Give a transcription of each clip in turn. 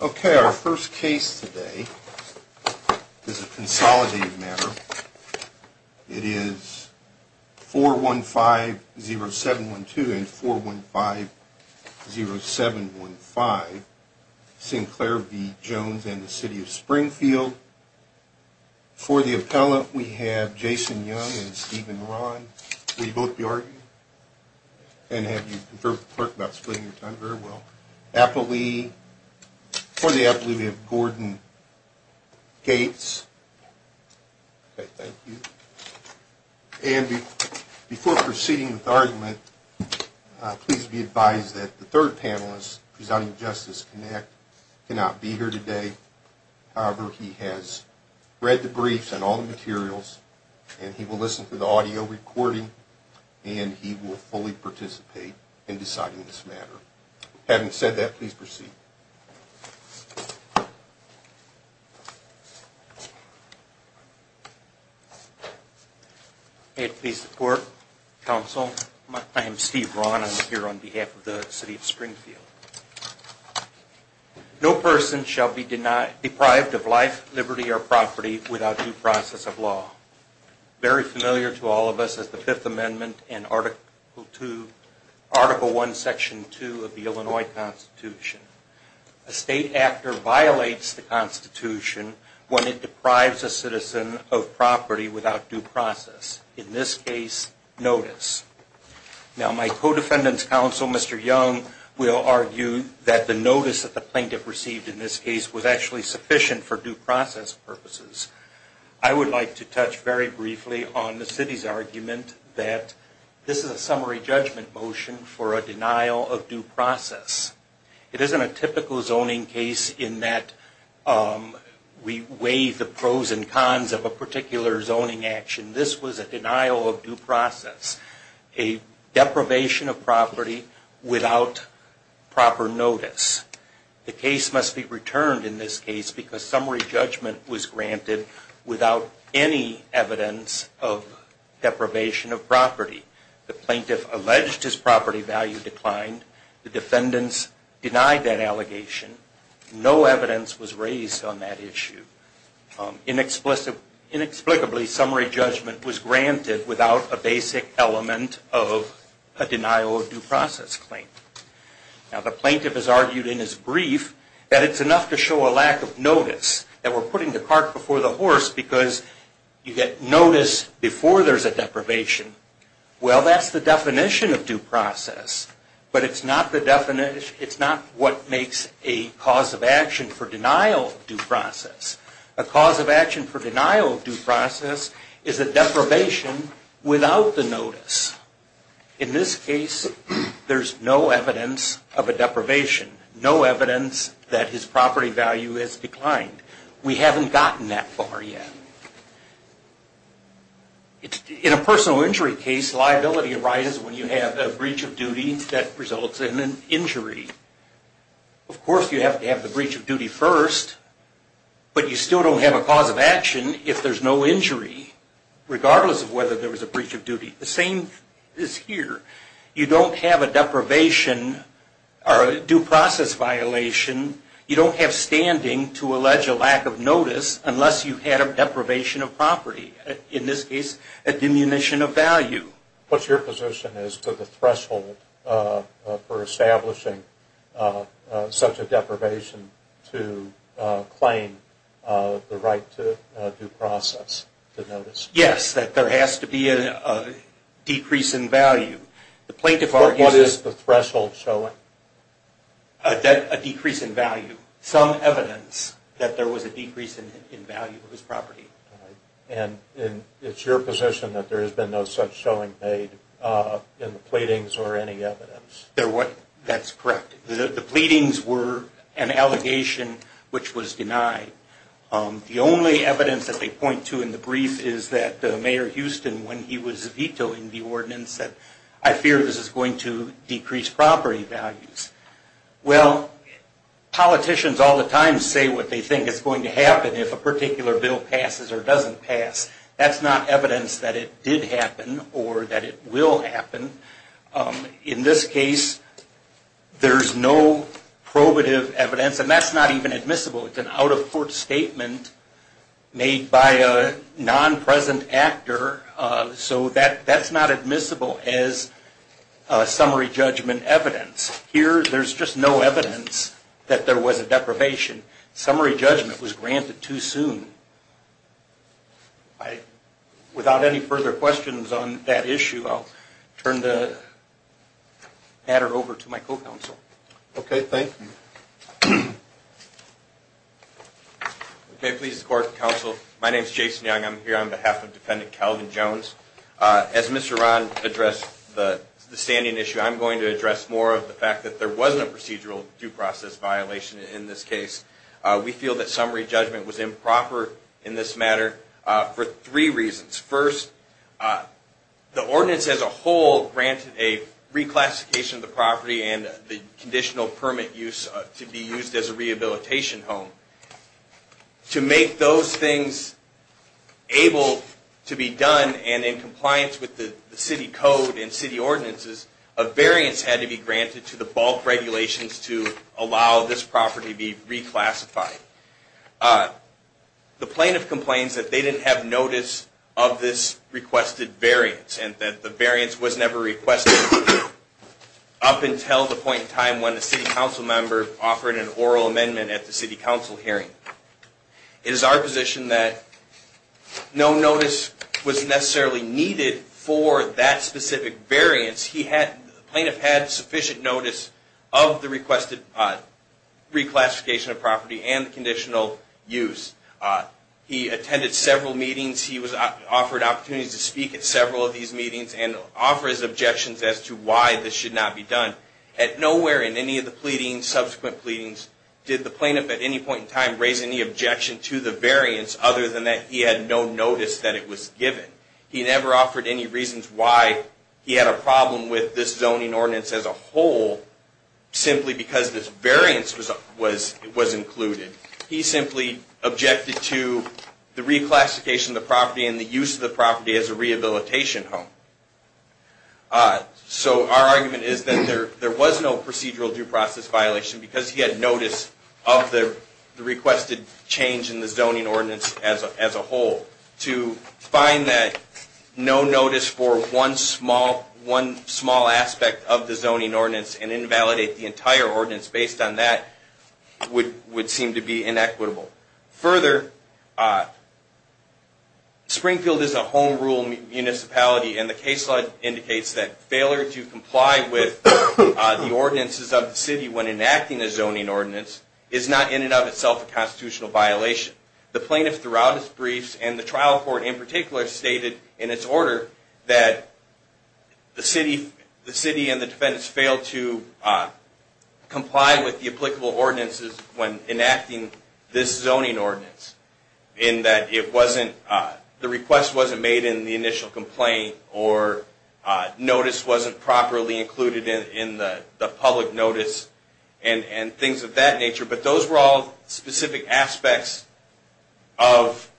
Okay, our first case today is a consolidated matter. It is 415-0712 and 415-0715, Sinclair v. Jones and the City of Springfield. For the appellate, we have Jason Young and Steven Ron. Will you both be arguing? And have you conferred with the clerk about splitting your time? Very well. For the appellate, we have Gordon Gates. Okay, thank you. And before proceeding with argument, please be advised that the third panelist, presiding justice, cannot be here today. However, he has read the briefs and all the materials, and he will listen to the audio recording, and he will fully participate in deciding this matter. Having said that, please proceed. May it please the Court, Counsel, I am Steve Ron. I'm here on behalf of the City of Springfield. No person shall be deprived of life, liberty, or property without due process of law. Very familiar to all of us is the Fifth Amendment and Article I, Section 2 of the Illinois Constitution. A state actor violates the Constitution when it deprives a citizen of property without due process. In this case, notice. Now, my co-defendant's counsel, Mr. Young, will argue that the notice that the plaintiff received in this case was actually sufficient for due process purposes. I would like to touch very briefly on the city's argument that this is a summary judgment motion for a denial of due process. It isn't a typical zoning case in that we weigh the pros and cons of a particular zoning action. This was a denial of due process, a deprivation of property without proper notice. The case must be returned in this case because summary judgment was granted without any evidence of deprivation of property. The plaintiff alleged his property value declined. The defendants denied that allegation. No evidence was raised on that issue. Inexplicably, summary judgment was granted without a basic element of a denial of due process claim. Now, the plaintiff has argued in his brief that it's enough to show a lack of notice, that we're putting the cart before the horse because you get notice before there's a deprivation. Well, that's the definition of due process, but it's not what makes a cause of action for denial of due process. A cause of action for denial of due process is a deprivation without the notice. In this case, there's no evidence of a deprivation, no evidence that his property value has declined. We haven't gotten that far yet. In a personal injury case, liability arises when you have a breach of duty that results in an injury. Of course, you have to have the breach of duty first, but you still don't have a cause of action if there's no injury, regardless of whether there was a breach of duty. The same is here. You don't have a deprivation or a due process violation. You don't have standing to allege a lack of notice unless you had a deprivation of property. In this case, a diminution of value. What's your position as to the threshold for establishing such a deprivation to claim the right to due process, to notice? Yes, that there has to be a decrease in value. What is the threshold showing? A decrease in value. Some evidence that there was a decrease in value of his property. It's your position that there has been no such showing made in the pleadings or any evidence? That's correct. The pleadings were an allegation which was denied. The only evidence that they point to in the brief is that Mayor Houston, when he was vetoing the ordinance, said, I fear this is going to decrease property values. Well, politicians all the time say what they think is going to happen if a particular bill passes or doesn't pass. That's not evidence that it did happen or that it will happen. In this case, there's no probative evidence, and that's not even admissible. It's an out-of-court statement made by a non-present actor, so that's not admissible as summary judgment evidence. Here, there's just no evidence that there was a deprivation. Summary judgment was granted too soon. Without any further questions on that issue, I'll turn the matter over to my co-counsel. Okay, thank you. Okay, please support the counsel. My name is Jason Young. I'm here on behalf of Defendant Calvin Jones. As Mr. Ron addressed the standing issue, I'm going to address more of the fact that there was no procedural due process violation in this case. We feel that summary judgment was improper in this matter for three reasons. First, the ordinance as a whole granted a reclassification of the property and the conditional permit use to be used as a rehabilitation home. To make those things able to be done and in compliance with the city code and city ordinances, a variance had to be granted to the bulk regulations to allow this property to be reclassified. The plaintiff complains that they didn't have notice of this requested variance and that the variance was never requested up until the point in time when the city council member offered an oral amendment at the city council hearing. It is our position that no notice was necessarily needed for that specific variance. The plaintiff had sufficient notice of the requested reclassification of property and the conditional use. He attended several meetings. He was offered opportunities to speak at several of these meetings and offer his objections as to why this should not be done. At nowhere in any of the subsequent pleadings did the plaintiff at any point in time raise any objection to the variance other than that he had no notice that it was given. He never offered any reasons why he had a problem with this zoning ordinance as a whole simply because this variance was included. He simply objected to the reclassification of the property and the use of the property as a rehabilitation home. So our argument is that there was no procedural due process violation because he had notice of the requested change in the zoning ordinance as a whole. To find that no notice for one small aspect of the zoning ordinance and invalidate the entire ordinance based on that would seem to be inequitable. Further, Springfield is a home rule municipality and the case law indicates that failure to comply with the ordinances of the city when enacting a zoning ordinance is not in and of itself a constitutional violation. The plaintiff throughout his briefs and the trial court in particular stated in its order that the city and the defendants failed to comply with the applicable ordinances when enacting this zoning ordinance in that the request wasn't made in the initial complaint or notice wasn't properly included in the public notice and things of that nature. But those were all specific aspects of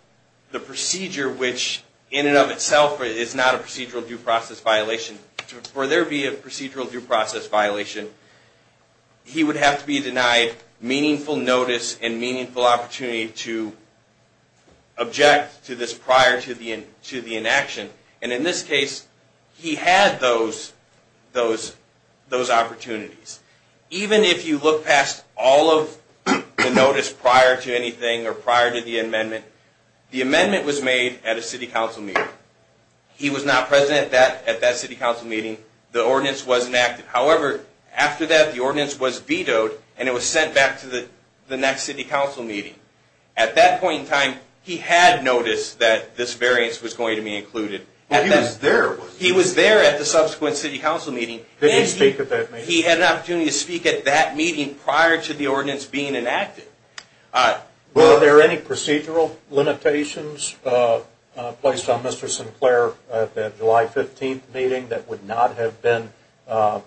the procedure which in and of itself is not a procedural due process violation. For there to be a procedural due process violation, he would have to be denied meaningful notice and meaningful opportunity to object to this prior to the inaction. And in this case, he had those opportunities. Even if you look past all of the notice prior to anything or prior to the amendment, the amendment was made at a city council meeting. He was not present at that city council meeting. The ordinance was enacted. However, after that, the ordinance was vetoed and it was sent back to the next city council meeting. At that point in time, he had noticed that this variance was going to be included. He was there at the subsequent city council meeting. He had an opportunity to speak at that meeting prior to the ordinance being enacted. Were there any procedural limitations placed on Mr. Sinclair at that July 15th meeting that would not have been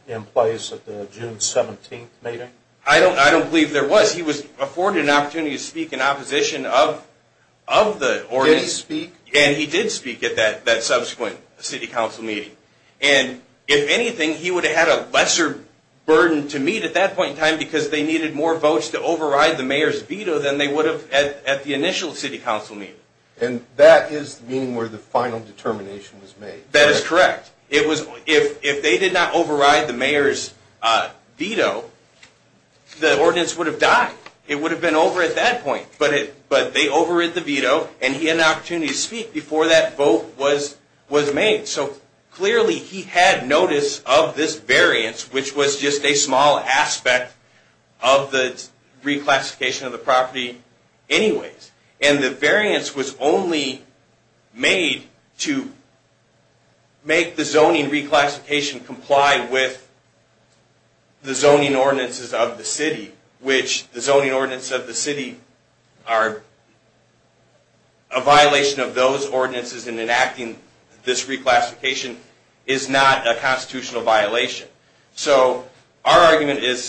in place at the June 17th meeting? I don't believe there was. He was afforded an opportunity to speak in opposition of the ordinance. Did he speak? And he did speak at that subsequent city council meeting. And if anything, he would have had a lesser burden to meet at that point in time because they needed more votes to override the mayor's veto than they would have at the initial city council meeting. And that is the meeting where the final determination was made? That is correct. If they did not override the mayor's veto, the ordinance would have died. It would have been over at that point. But they overrid the veto and he had an opportunity to speak before that vote was made. So clearly he had notice of this variance, which was just a small aspect of the reclassification of the property anyways. And the variance was only made to make the zoning reclassification comply with the zoning ordinances of the city, which the zoning ordinances of the city are a violation of those ordinances and enacting this reclassification is not a constitutional violation. So our argument is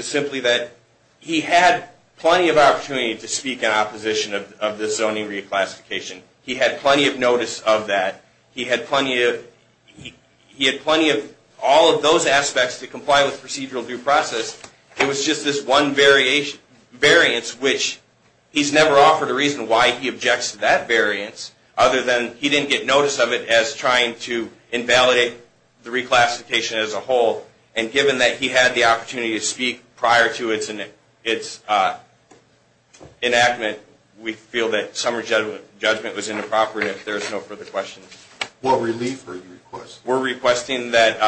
simply that he had plenty of opportunity to speak in opposition of this zoning reclassification. He had plenty of notice of that. He had plenty of all of those aspects to comply with procedural due process. It was just this one variance, which he's never offered a reason why he objects to that variance other than he didn't get notice of it as trying to invalidate the reclassification as a whole. And given that he had the opportunity to speak prior to its enactment, we feel that summary judgment was inappropriate if there's no further questions. What relief are you requesting? We're requesting that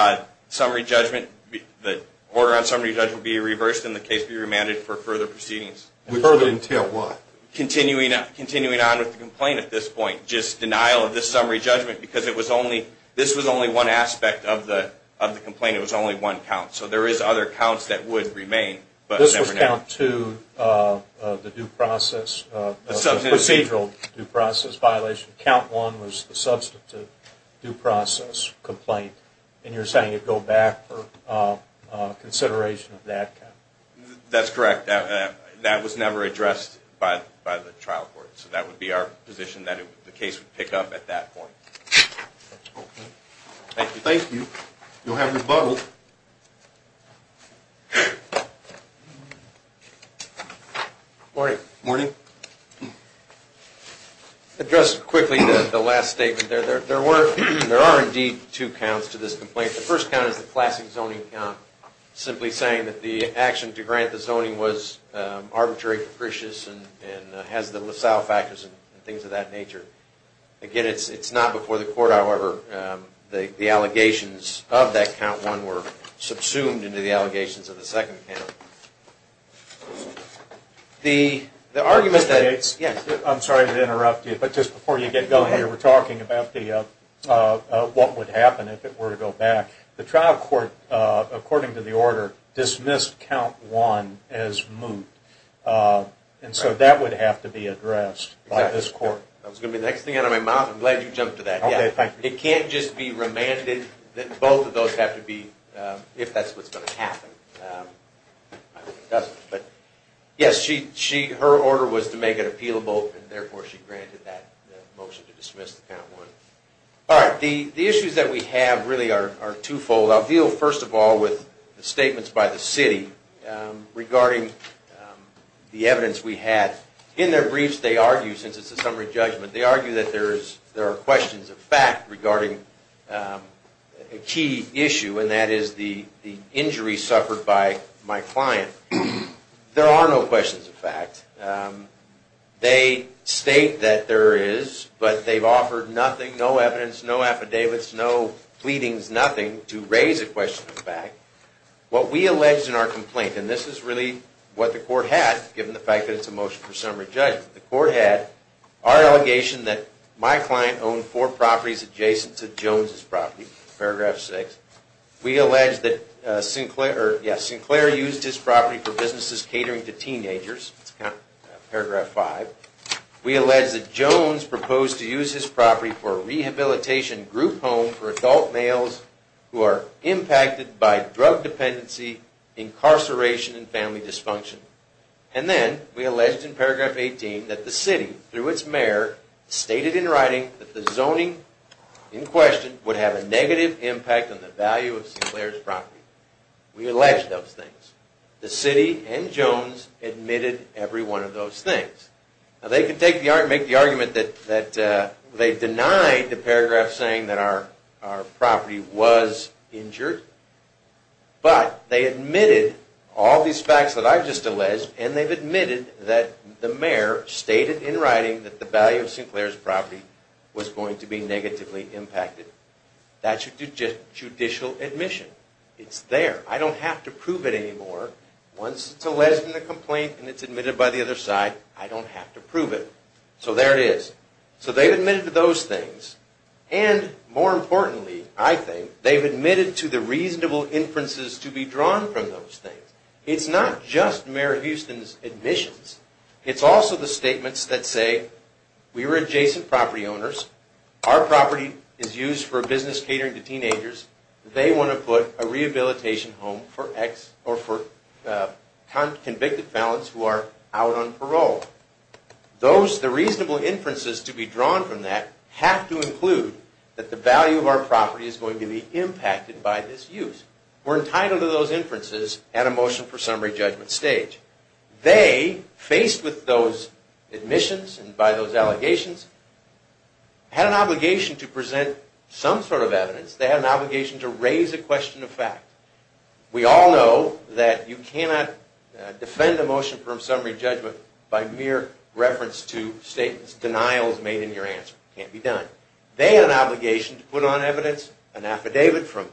the order on summary judgment be reversed and the case be remanded for further proceedings. Further until what? Continuing on with the complaint at this point. Just denial of this summary judgment because this was only one aspect of the complaint. It was only one count. So there is other counts that would remain. This was count two of the procedural due process violation. Count one was the substantive due process complaint. And you're saying it go back for consideration of that count? That's correct. That was never addressed by the trial court. So that would be our position that the case would pick up at that point. Okay. Thank you. Thank you. You'll have your bottle. Morning. I'll address quickly the last statement there. There are indeed two counts to this complaint. The first count is the classic zoning count, simply saying that the action to grant the zoning was arbitrary, capricious, and has the LaSalle factors and things of that nature. Again, it's not before the court, however. The allegations of that count one were subsumed into the allegations of the second count. Mr. Gates, I'm sorry to interrupt you, but just before you get going here, we're talking about what would happen if it were to go back. The trial court, according to the order, dismissed count one as moot. And so that would have to be addressed by this court. That was going to be the next thing out of my mouth. I'm glad you jumped to that. It can't just be remanded that both of those have to be, if that's what's going to happen. Yes, her order was to make it appealable, and therefore she granted that motion to dismiss the count one. All right. The issues that we have really are twofold. I'll deal, first of all, with the statements by the city regarding the evidence we had. In their briefs, they argue, since it's a summary judgment, they argue that there are questions of fact regarding a key issue, and that is the injury suffered by my client. There are no questions of fact. They state that there is, but they've offered nothing, no evidence, no affidavits, no pleadings, nothing to raise a question of fact. What we allege in our complaint, and this is really what the court had, given the fact that it's a motion for summary judgment, the court had our allegation that my client owned four properties adjacent to Jones' property, paragraph six. We allege that Sinclair used his property for businesses catering to teenagers, paragraph five. We allege that Jones proposed to use his property for a rehabilitation group home for adult males who are impacted by drug dependency, incarceration, and family dysfunction. And then we allege in paragraph 18 that the city, through its mayor, stated in writing that the zoning in question would have a negative impact on the value of Sinclair's property. We allege those things. The city and Jones admitted every one of those things. Now they could make the argument that they denied the paragraph saying that our property was injured, but they admitted all these facts that I've just alleged, and they've admitted that the mayor stated in writing that the value of Sinclair's property was going to be negatively impacted. That's a judicial admission. It's there. I don't have to prove it anymore. Once it's alleged in the complaint and it's admitted by the other side, I don't have to prove it. So there it is. So they've admitted to those things, and more importantly, I think, they've admitted to the reasonable inferences to be drawn from those things. It's not just Mayor Houston's admissions. It's also the statements that say, we were adjacent property owners. Our property is used for business catering to teenagers. They want to put a rehabilitation home for convicted felons who are out on parole. Those, the reasonable inferences to be drawn from that have to include that the value of our property is going to be impacted by this use. We're entitled to those inferences at a motion for summary judgment stage. They, faced with those admissions and by those allegations, had an obligation to present some sort of evidence. They had an obligation to raise a question of fact. We all know that you cannot defend a motion for summary judgment by mere reference to statements, denials made in your answer. It can't be done. They had an obligation to put on evidence an affidavit from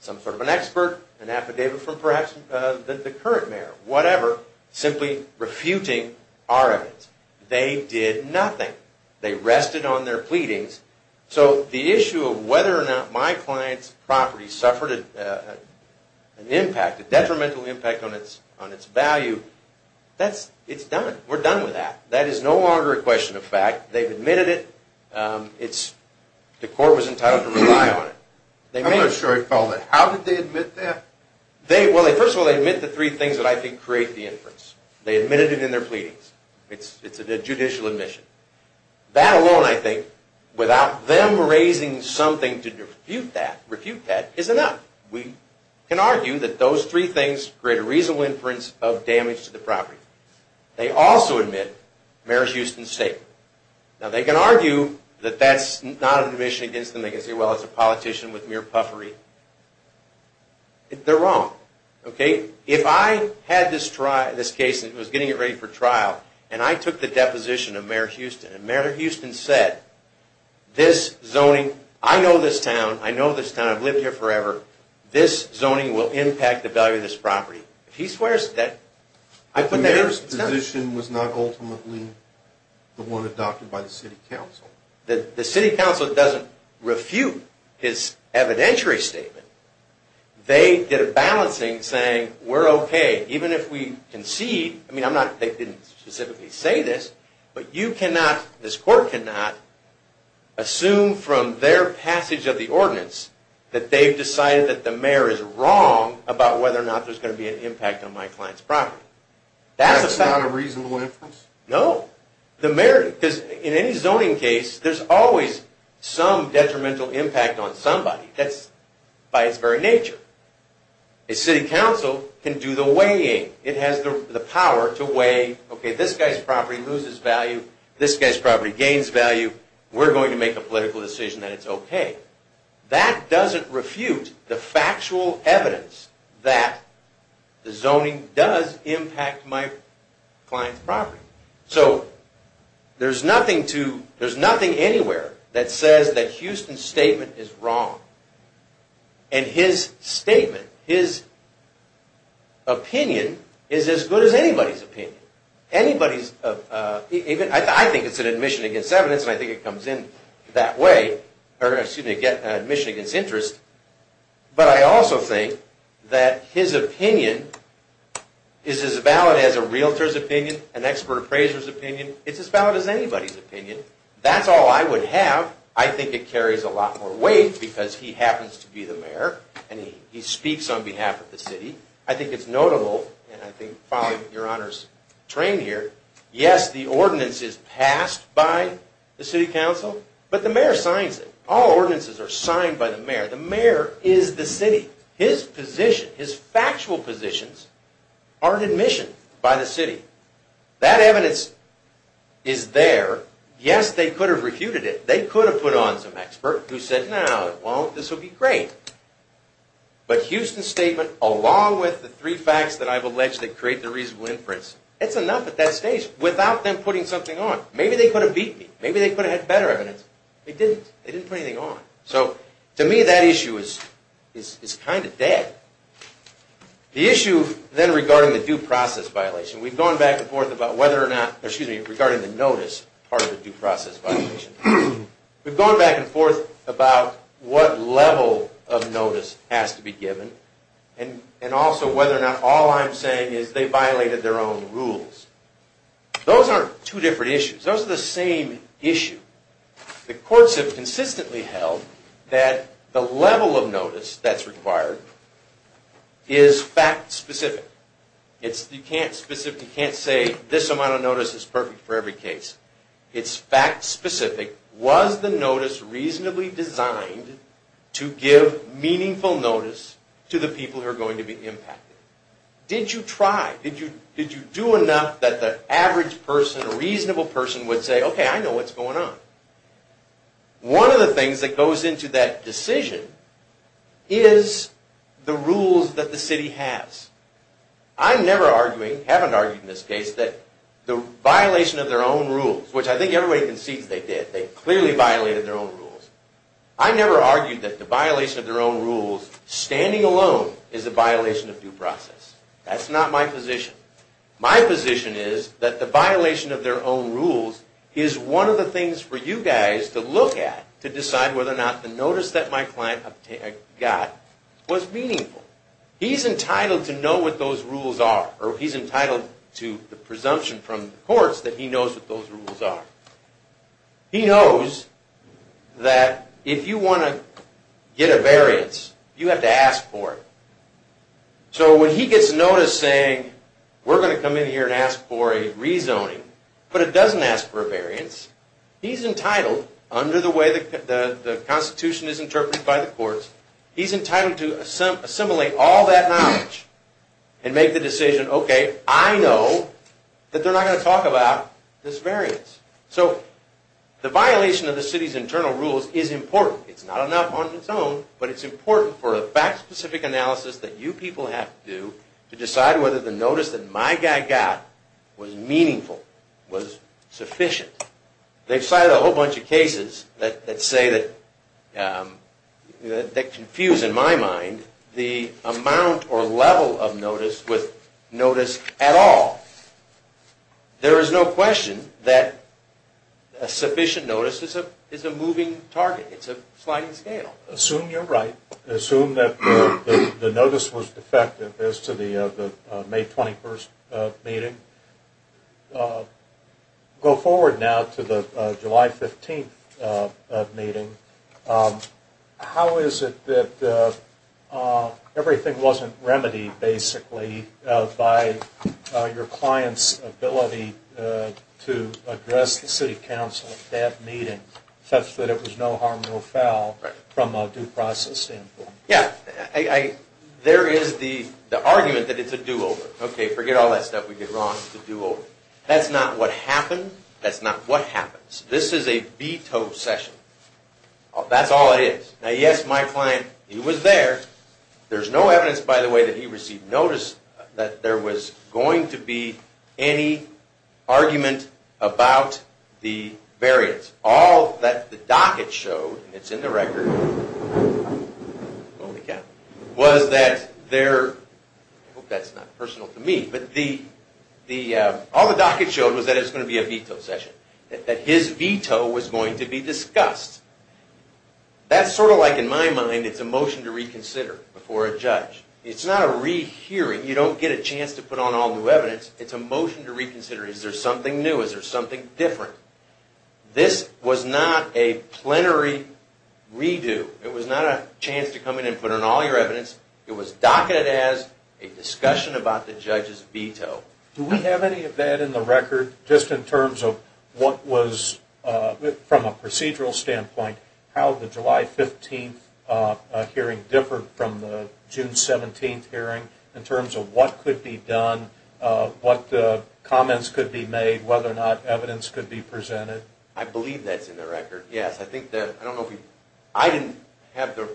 some sort of an expert, an affidavit from perhaps the current mayor, whatever, simply refuting our evidence. They did nothing. They rested on their pleadings. So the issue of whether or not my client's property suffered an impact, a detrimental impact on its value, it's done. We're done with that. That is no longer a question of fact. They've admitted it. The court was entitled to rely on it. I'm not sure I follow that. How did they admit that? First of all, they admit the three things that I think create the inference. They admitted it in their pleadings. It's a judicial admission. That alone, I think, without them raising something to refute that, is enough. We can argue that those three things create a reasonable inference of damage to the property. They also admit Mayor Houston's statement. Now, they can argue that that's not an admission against them. They can say, well, it's a politician with mere puffery. They're wrong. If I had this case and was getting it ready for trial, and I took the deposition of Mayor Houston, and Mayor Houston said, I know this town. I've lived here forever. This zoning will impact the value of this property. The mayor's position was not ultimately the one adopted by the city council. The city council doesn't refute his evidentiary statement. They did a balancing saying, we're okay, even if we concede. I mean, they didn't specifically say this, but you cannot, this court cannot, assume from their passage of the ordinance that they've decided that the mayor is wrong about whether or not there's going to be an impact on my client's property. That's not a reasonable inference? No. In any zoning case, there's always some detrimental impact on somebody. That's by its very nature. A city council can do the weighing. It has the power to weigh, okay, this guy's property loses value. This guy's property gains value. We're going to make a political decision that it's okay. That doesn't refute the factual evidence that the zoning does impact my client's property. So there's nothing anywhere that says that Houston's statement is wrong. And his statement, his opinion, is as good as anybody's opinion. I think it's an admission against evidence, and I think it comes in that way, or excuse me, an admission against interest. But I also think that his opinion is as valid as a realtor's opinion, an expert appraiser's opinion. It's as valid as anybody's opinion. That's all I would have. I think it carries a lot more weight because he happens to be the mayor, and he speaks on behalf of the city. I think it's notable, and I think following Your Honor's train here, yes, the ordinance is passed by the city council, but the mayor signs it. All ordinances are signed by the mayor. The mayor is the city. His position, his factual positions, are an admission by the city. That evidence is there. Yes, they could have refuted it. They could have put on some expert who said, no, it won't. This will be great. But Houston's statement, along with the three facts that I've alleged that create the reasonable inference, it's enough at that stage without them putting something on. Maybe they could have beat me. Maybe they could have had better evidence. They didn't. They didn't put anything on. So to me, that issue is kind of dead. The issue then regarding the due process violation. We've gone back and forth about whether or not, excuse me, regarding the notice part of the due process violation. We've gone back and forth about what level of notice has to be given, and also whether or not all I'm saying is they violated their own rules. Those aren't two different issues. Those are the same issue. The courts have consistently held that the level of notice that's required is fact-specific. You can't say this amount of notice is perfect for every case. It's fact-specific. Was the notice reasonably designed to give meaningful notice to the people who are going to be impacted? Did you try? Did you do enough that the average person, a reasonable person, would say, okay, I know what's going on. One of the things that goes into that decision is the rules that the city has. I'm never arguing, haven't argued in this case, that the violation of their own rules, which I think everybody concedes they did. They clearly violated their own rules. I never argued that the violation of their own rules, standing alone, is a violation of due process. That's not my position. My position is that the violation of their own rules is one of the things for you guys to look at to decide whether or not the notice that my client got was meaningful. He's entitled to know what those rules are, or he's entitled to the presumption from the courts that he knows what those rules are. He knows that if you want to get a variance, you have to ask for it. So when he gets notice saying, we're going to come in here and ask for a rezoning, but it doesn't ask for a variance, he's entitled, under the way the Constitution is interpreted by the courts, he's entitled to assembling all that knowledge and make the decision, okay, I know that they're not going to talk about this variance. So the violation of the city's internal rules is important. It's not enough on its own, but it's important for a fact-specific analysis that you people have to do to decide whether the notice that my guy got was meaningful, was sufficient. They've cited a whole bunch of cases that say that – that confuse, in my mind, the amount or level of notice with notice at all. There is no question that a sufficient notice is a moving target. It's a sliding scale. Assume you're right. Assume that the notice was effective as to the May 21st meeting. Go forward now to the July 15th meeting. How is it that everything wasn't remedied, basically, by your client's ability to address the city council at that meeting, such that it was no harm, no foul, from a due process standpoint? Holy cow. Was that there – I hope that's not personal to me, but all the docket showed was that it was going to be a veto session, that his veto was going to be discussed. That's sort of like, in my mind, it's a motion to reconsider before a judge. It's not a rehearing. You don't get a chance to put on all new evidence. It's a motion to reconsider. Is there something new? Is there something different? This was not a plenary redo. It was not a chance to come in and put on all your evidence. It was docketed as a discussion about the judge's veto. Do we have any of that in the record, just in terms of what was – from a procedural standpoint, how the July 15th hearing differed from the June 17th hearing, in terms of what could be done, what comments could be made, whether or not evidence could be presented? I believe that's in the record, yes. I think that – I don't know if you – I didn't have the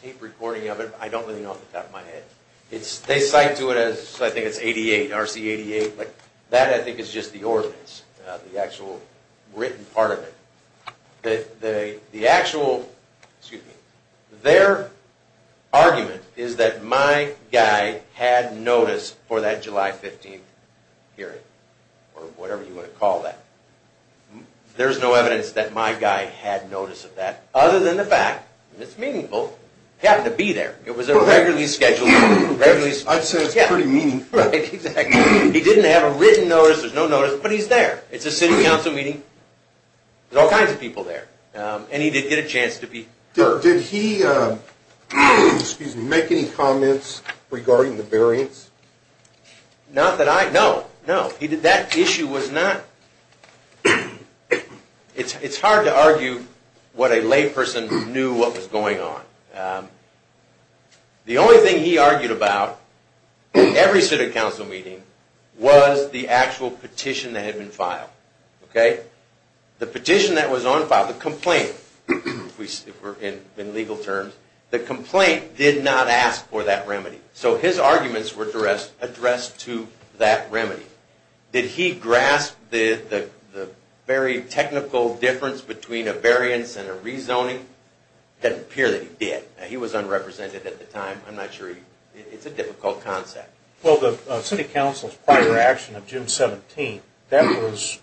tape recording of it, but I don't really know off the top of my head. They cite to it as – I think it's 88, RC88, but that, I think, is just the ordinance, the actual written part of it. The actual – excuse me – their argument is that my guy had notice for that July 15th hearing, or whatever you want to call that. There's no evidence that my guy had notice of that, other than the fact – and it's meaningful – he happened to be there. It was a regularly scheduled meeting. I'd say it's pretty meaningful. Right, exactly. He didn't have a written notice. There's no notice, but he's there. It's a city council meeting. There's all kinds of people there, and he did get a chance to be there. Did he make any comments regarding the variance? Not that I – no, no. He did – that issue was not – it's hard to argue what a layperson knew what was going on. The only thing he argued about at every city council meeting was the actual petition that had been filed. Okay? The petition that was on file – the complaint, if we're in legal terms – the complaint did not ask for that remedy. So his arguments were addressed to that remedy. Did he grasp the very technical difference between a variance and a rezoning? It doesn't appear that he did. He was unrepresented at the time. I'm not sure he – it's a difficult concept. Well, the city council's prior action of June 17th, that was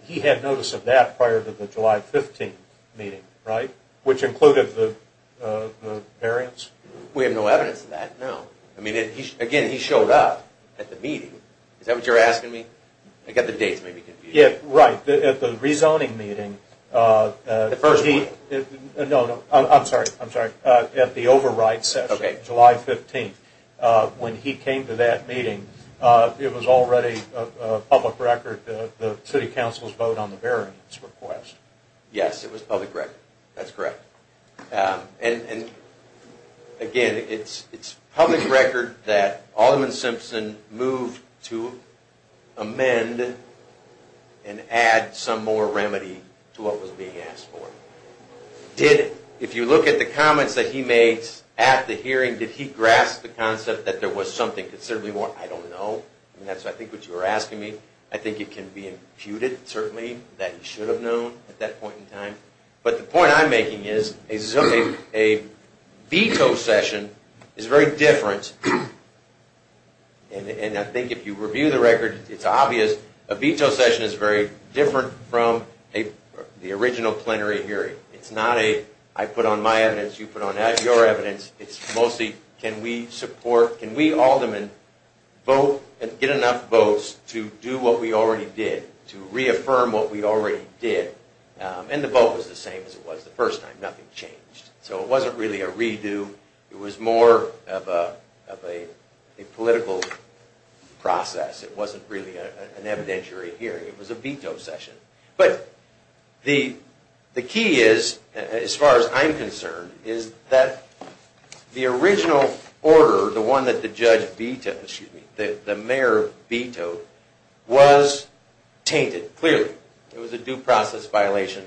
– he had notice of that prior to the July 15th meeting, right? Which included the variance? We have no evidence of that, no. I mean, again, he showed up at the meeting. Is that what you're asking me? I've got the dates maybe confused. Yeah, right. At the rezoning meeting – The first meeting. No, no. I'm sorry. I'm sorry. At the override session, July 15th, when he came to that meeting, it was already a public record, the city council's vote on the variance request. Yes, it was public record. That's correct. And again, it's public record that Alderman Simpson moved to amend and add some more remedy to what was being asked for. Did – if you look at the comments that he made at the hearing, did he grasp the concept that there was something considerably more – I don't know. I mean, that's, I think, what you were asking me. I think it can be imputed, certainly, that he should have known at that point in time. But the point I'm making is a veto session is very different, and I think if you review the record, it's obvious a veto session is very different from the original plenary hearing. It's not a, I put on my evidence, you put on your evidence. It's mostly, can we support – can we aldermen vote and get enough votes to do what we already did, to reaffirm what we already did? And the vote was the same as it was the first time. Nothing changed. So it wasn't really a redo. It was more of a political process. It wasn't really an evidentiary hearing. It was a veto session. But the key is, as far as I'm concerned, is that the original order, the one that the judge vetoed, excuse me, the mayor vetoed, was tainted, clearly. It was a due process violation.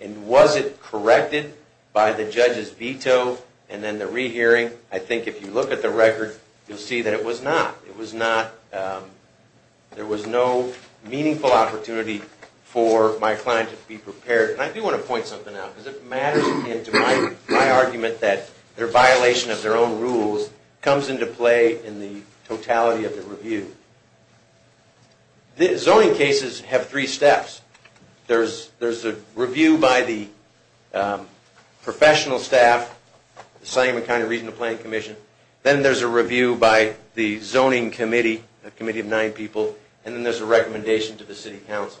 And was it corrected by the judge's veto? And then the rehearing, I think if you look at the record, you'll see that it was not. It was not – there was no meaningful opportunity for my client to be prepared. And I do want to point something out, because it matters in my argument that their violation of their own rules comes into play in the totality of the review. Zoning cases have three steps. There's a review by the professional staff, the Seligman County Regional Planning Commission. Then there's a review by the zoning committee, a committee of nine people. And then there's a recommendation to the city council.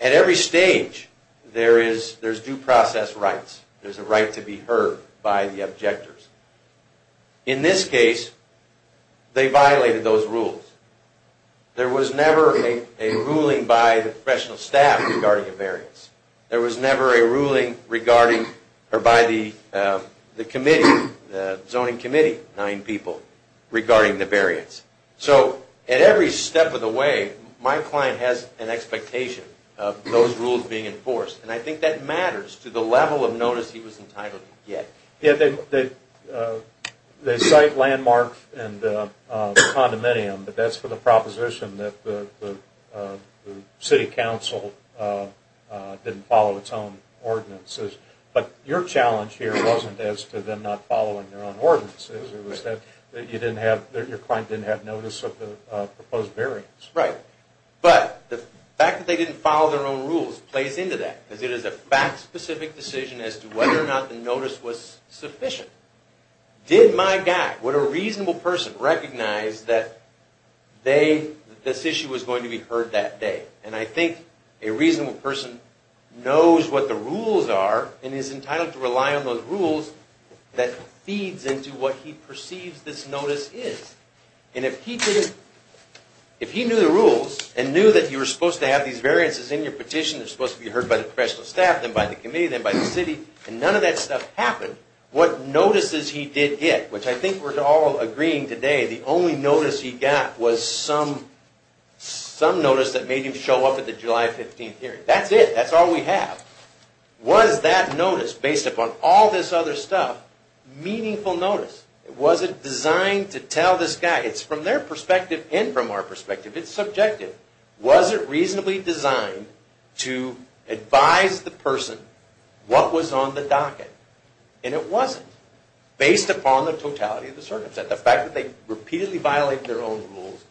At every stage, there's due process rights. There's a right to be heard by the objectors. In this case, they violated those rules. There was never a ruling by the professional staff regarding a variance. There was never a ruling by the committee, the zoning committee, nine people, regarding the variance. So at every step of the way, my client has an expectation of those rules being enforced. And I think that matters to the level of notice he was entitled to get. Yeah, they cite landmarks and the condominium, but that's for the proposition that the city council didn't follow its own ordinances. But your challenge here wasn't as to them not following their own ordinances. It was that you didn't have – your client didn't have notice of the proposed variance. Right. But the fact that they didn't follow their own rules plays into that, because it is a fact-specific decision as to whether or not the notice was sufficient. Did my guy, would a reasonable person, recognize that this issue was going to be heard that day? And I think a reasonable person knows what the rules are and is entitled to rely on those rules that feeds into what he perceives this notice is. And if he knew the rules and knew that you were supposed to have these variances in your petition that were supposed to be heard by the professional staff, then by the committee, then by the city, and none of that stuff happened, what notices he did get, which I think we're all agreeing today, the only notice he got was some notice that made him show up at the July 15th hearing. That's it. That's all we have. Was that notice, based upon all this other stuff, meaningful notice? Was it designed to tell this guy – it's from their perspective and from our perspective, it's subjective – was it reasonably designed to advise the person what was on the docket? And it wasn't, based upon the totality of the circumstance. The fact that they repeatedly violated their own rules,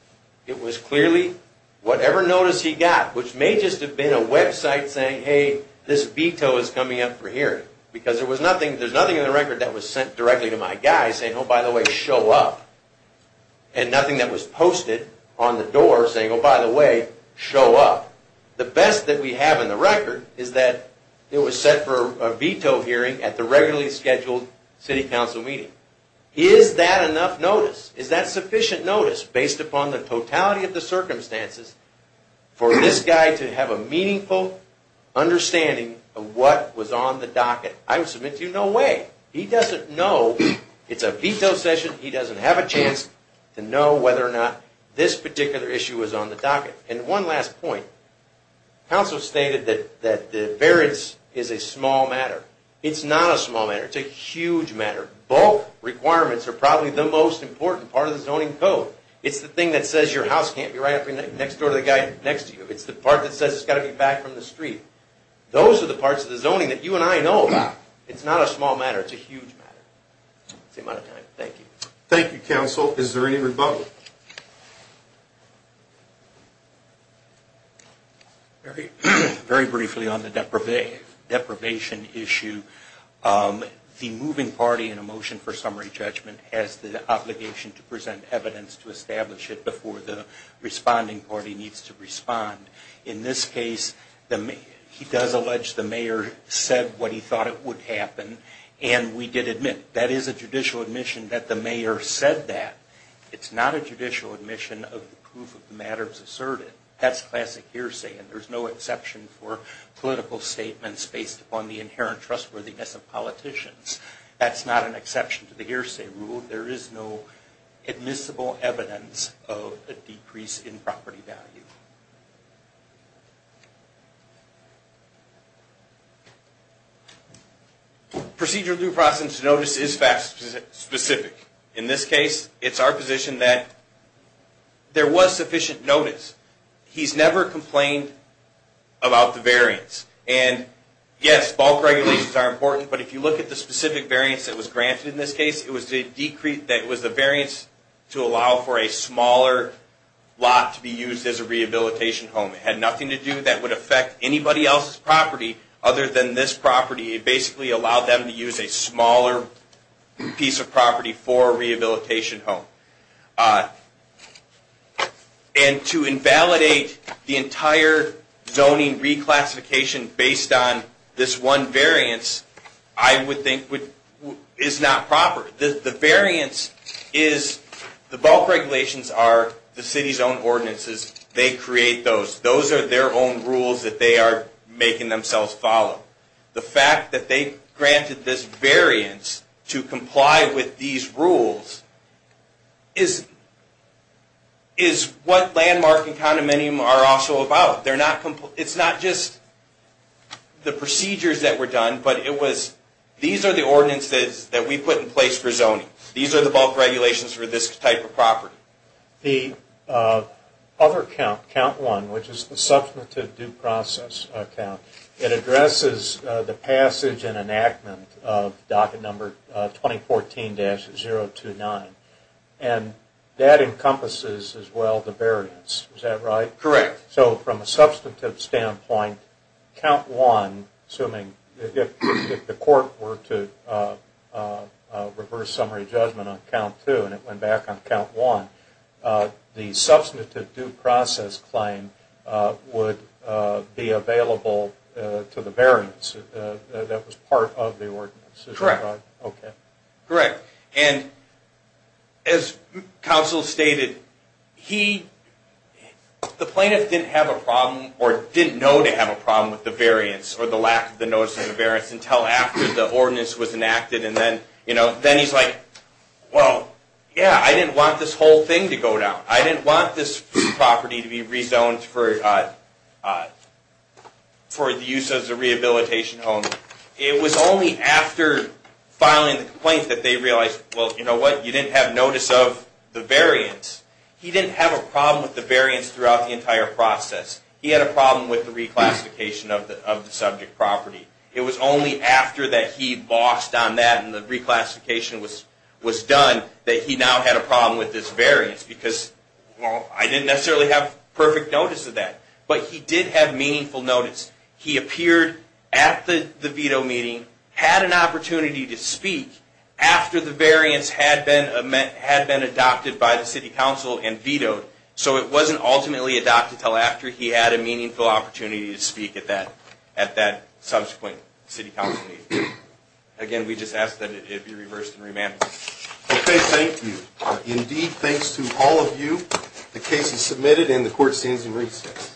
it was clearly whatever notice he got, which may just have been a website saying, hey, this veto is coming up for hearing. Because there's nothing in the record that was sent directly to my guy saying, oh, by the way, show up. And nothing that was posted on the door saying, oh, by the way, show up. The best that we have in the record is that it was set for a veto hearing at the regularly scheduled city council meeting. Is that enough notice? Is that sufficient notice, based upon the totality of the circumstances, for this guy to have a meaningful understanding of what was on the docket? I would submit to you, no way. He doesn't know. It's a veto session. He doesn't have a chance to know whether or not this particular issue was on the docket. Council stated that the variance is a small matter. It's not a small matter. It's a huge matter. Bulk requirements are probably the most important part of the zoning code. It's the thing that says your house can't be right up next door to the guy next to you. It's the part that says it's got to be back from the street. Those are the parts of the zoning that you and I know about. It's not a small matter. It's a huge matter. That's the amount of time. Thank you. Thank you, counsel. Is there any rebuttal? Very briefly on the deprivation issue. The moving party in a motion for summary judgment has the obligation to present evidence to establish it before the responding party needs to respond. In this case, he does allege the mayor said what he thought it would happen, and we did admit, that is a judicial admission that the mayor said that. It's not a judicial admission of the proof of the matters asserted. That's classic hearsay, and there's no exception for political statements based upon the inherent trustworthiness of politicians. That's not an exception to the hearsay rule. There is no admissible evidence of a decrease in property value. Procedure due process notice is fact specific. In this case, it's our position that there was sufficient notice. He's never complained about the variance, and yes, bulk regulations are important, but if you look at the specific variance that was granted in this case, it was the variance to allow for a smaller lot to be used as a rehabilitation facility. It had nothing to do that would affect anybody else's property other than this property. It basically allowed them to use a smaller piece of property for a rehabilitation home. And to invalidate the entire zoning reclassification based on this one variance, I would think is not proper. The variance is, the bulk regulations are the city's own ordinances. They create those. Those are their own rules that they are making themselves follow. The fact that they granted this variance to comply with these rules is what landmark and condominium are also about. It's not just the procedures that were done, but it was these are the ordinances that we put in place for zoning. These are the bulk regulations for this type of property. The other count, count one, which is the substantive due process count, it addresses the passage and enactment of docket number 2014-029, and that encompasses as well the variance. Is that right? Correct. And as counsel stated, he, the plaintiff didn't have a problem or didn't know to have a problem with the variance or the lack of the notice of the variance until after the ordinance was enacted. Then he's like, well, yeah, I didn't want this whole thing to go down. I didn't want this property to be rezoned for use as a rehabilitation home. It was only after filing the complaint that they realized, well, you know what, you didn't have notice of the variance. He didn't have a problem with the variance throughout the entire process. He had a problem with the reclassification of the subject property. It was only after that he lost on that and the reclassification was done that he now had a problem with this variance because, well, I didn't necessarily have perfect notice of that, but he did have meaningful notice. He appeared at the veto meeting, had an opportunity to speak after the variance had been adopted by the city council and vetoed. So it wasn't ultimately adopted until after he had a meaningful opportunity to speak at that subsequent city council meeting. Again, we just ask that it be reversed and remanded. Okay, thank you. Indeed, thanks to all of you. The case is submitted and the court stands in recess.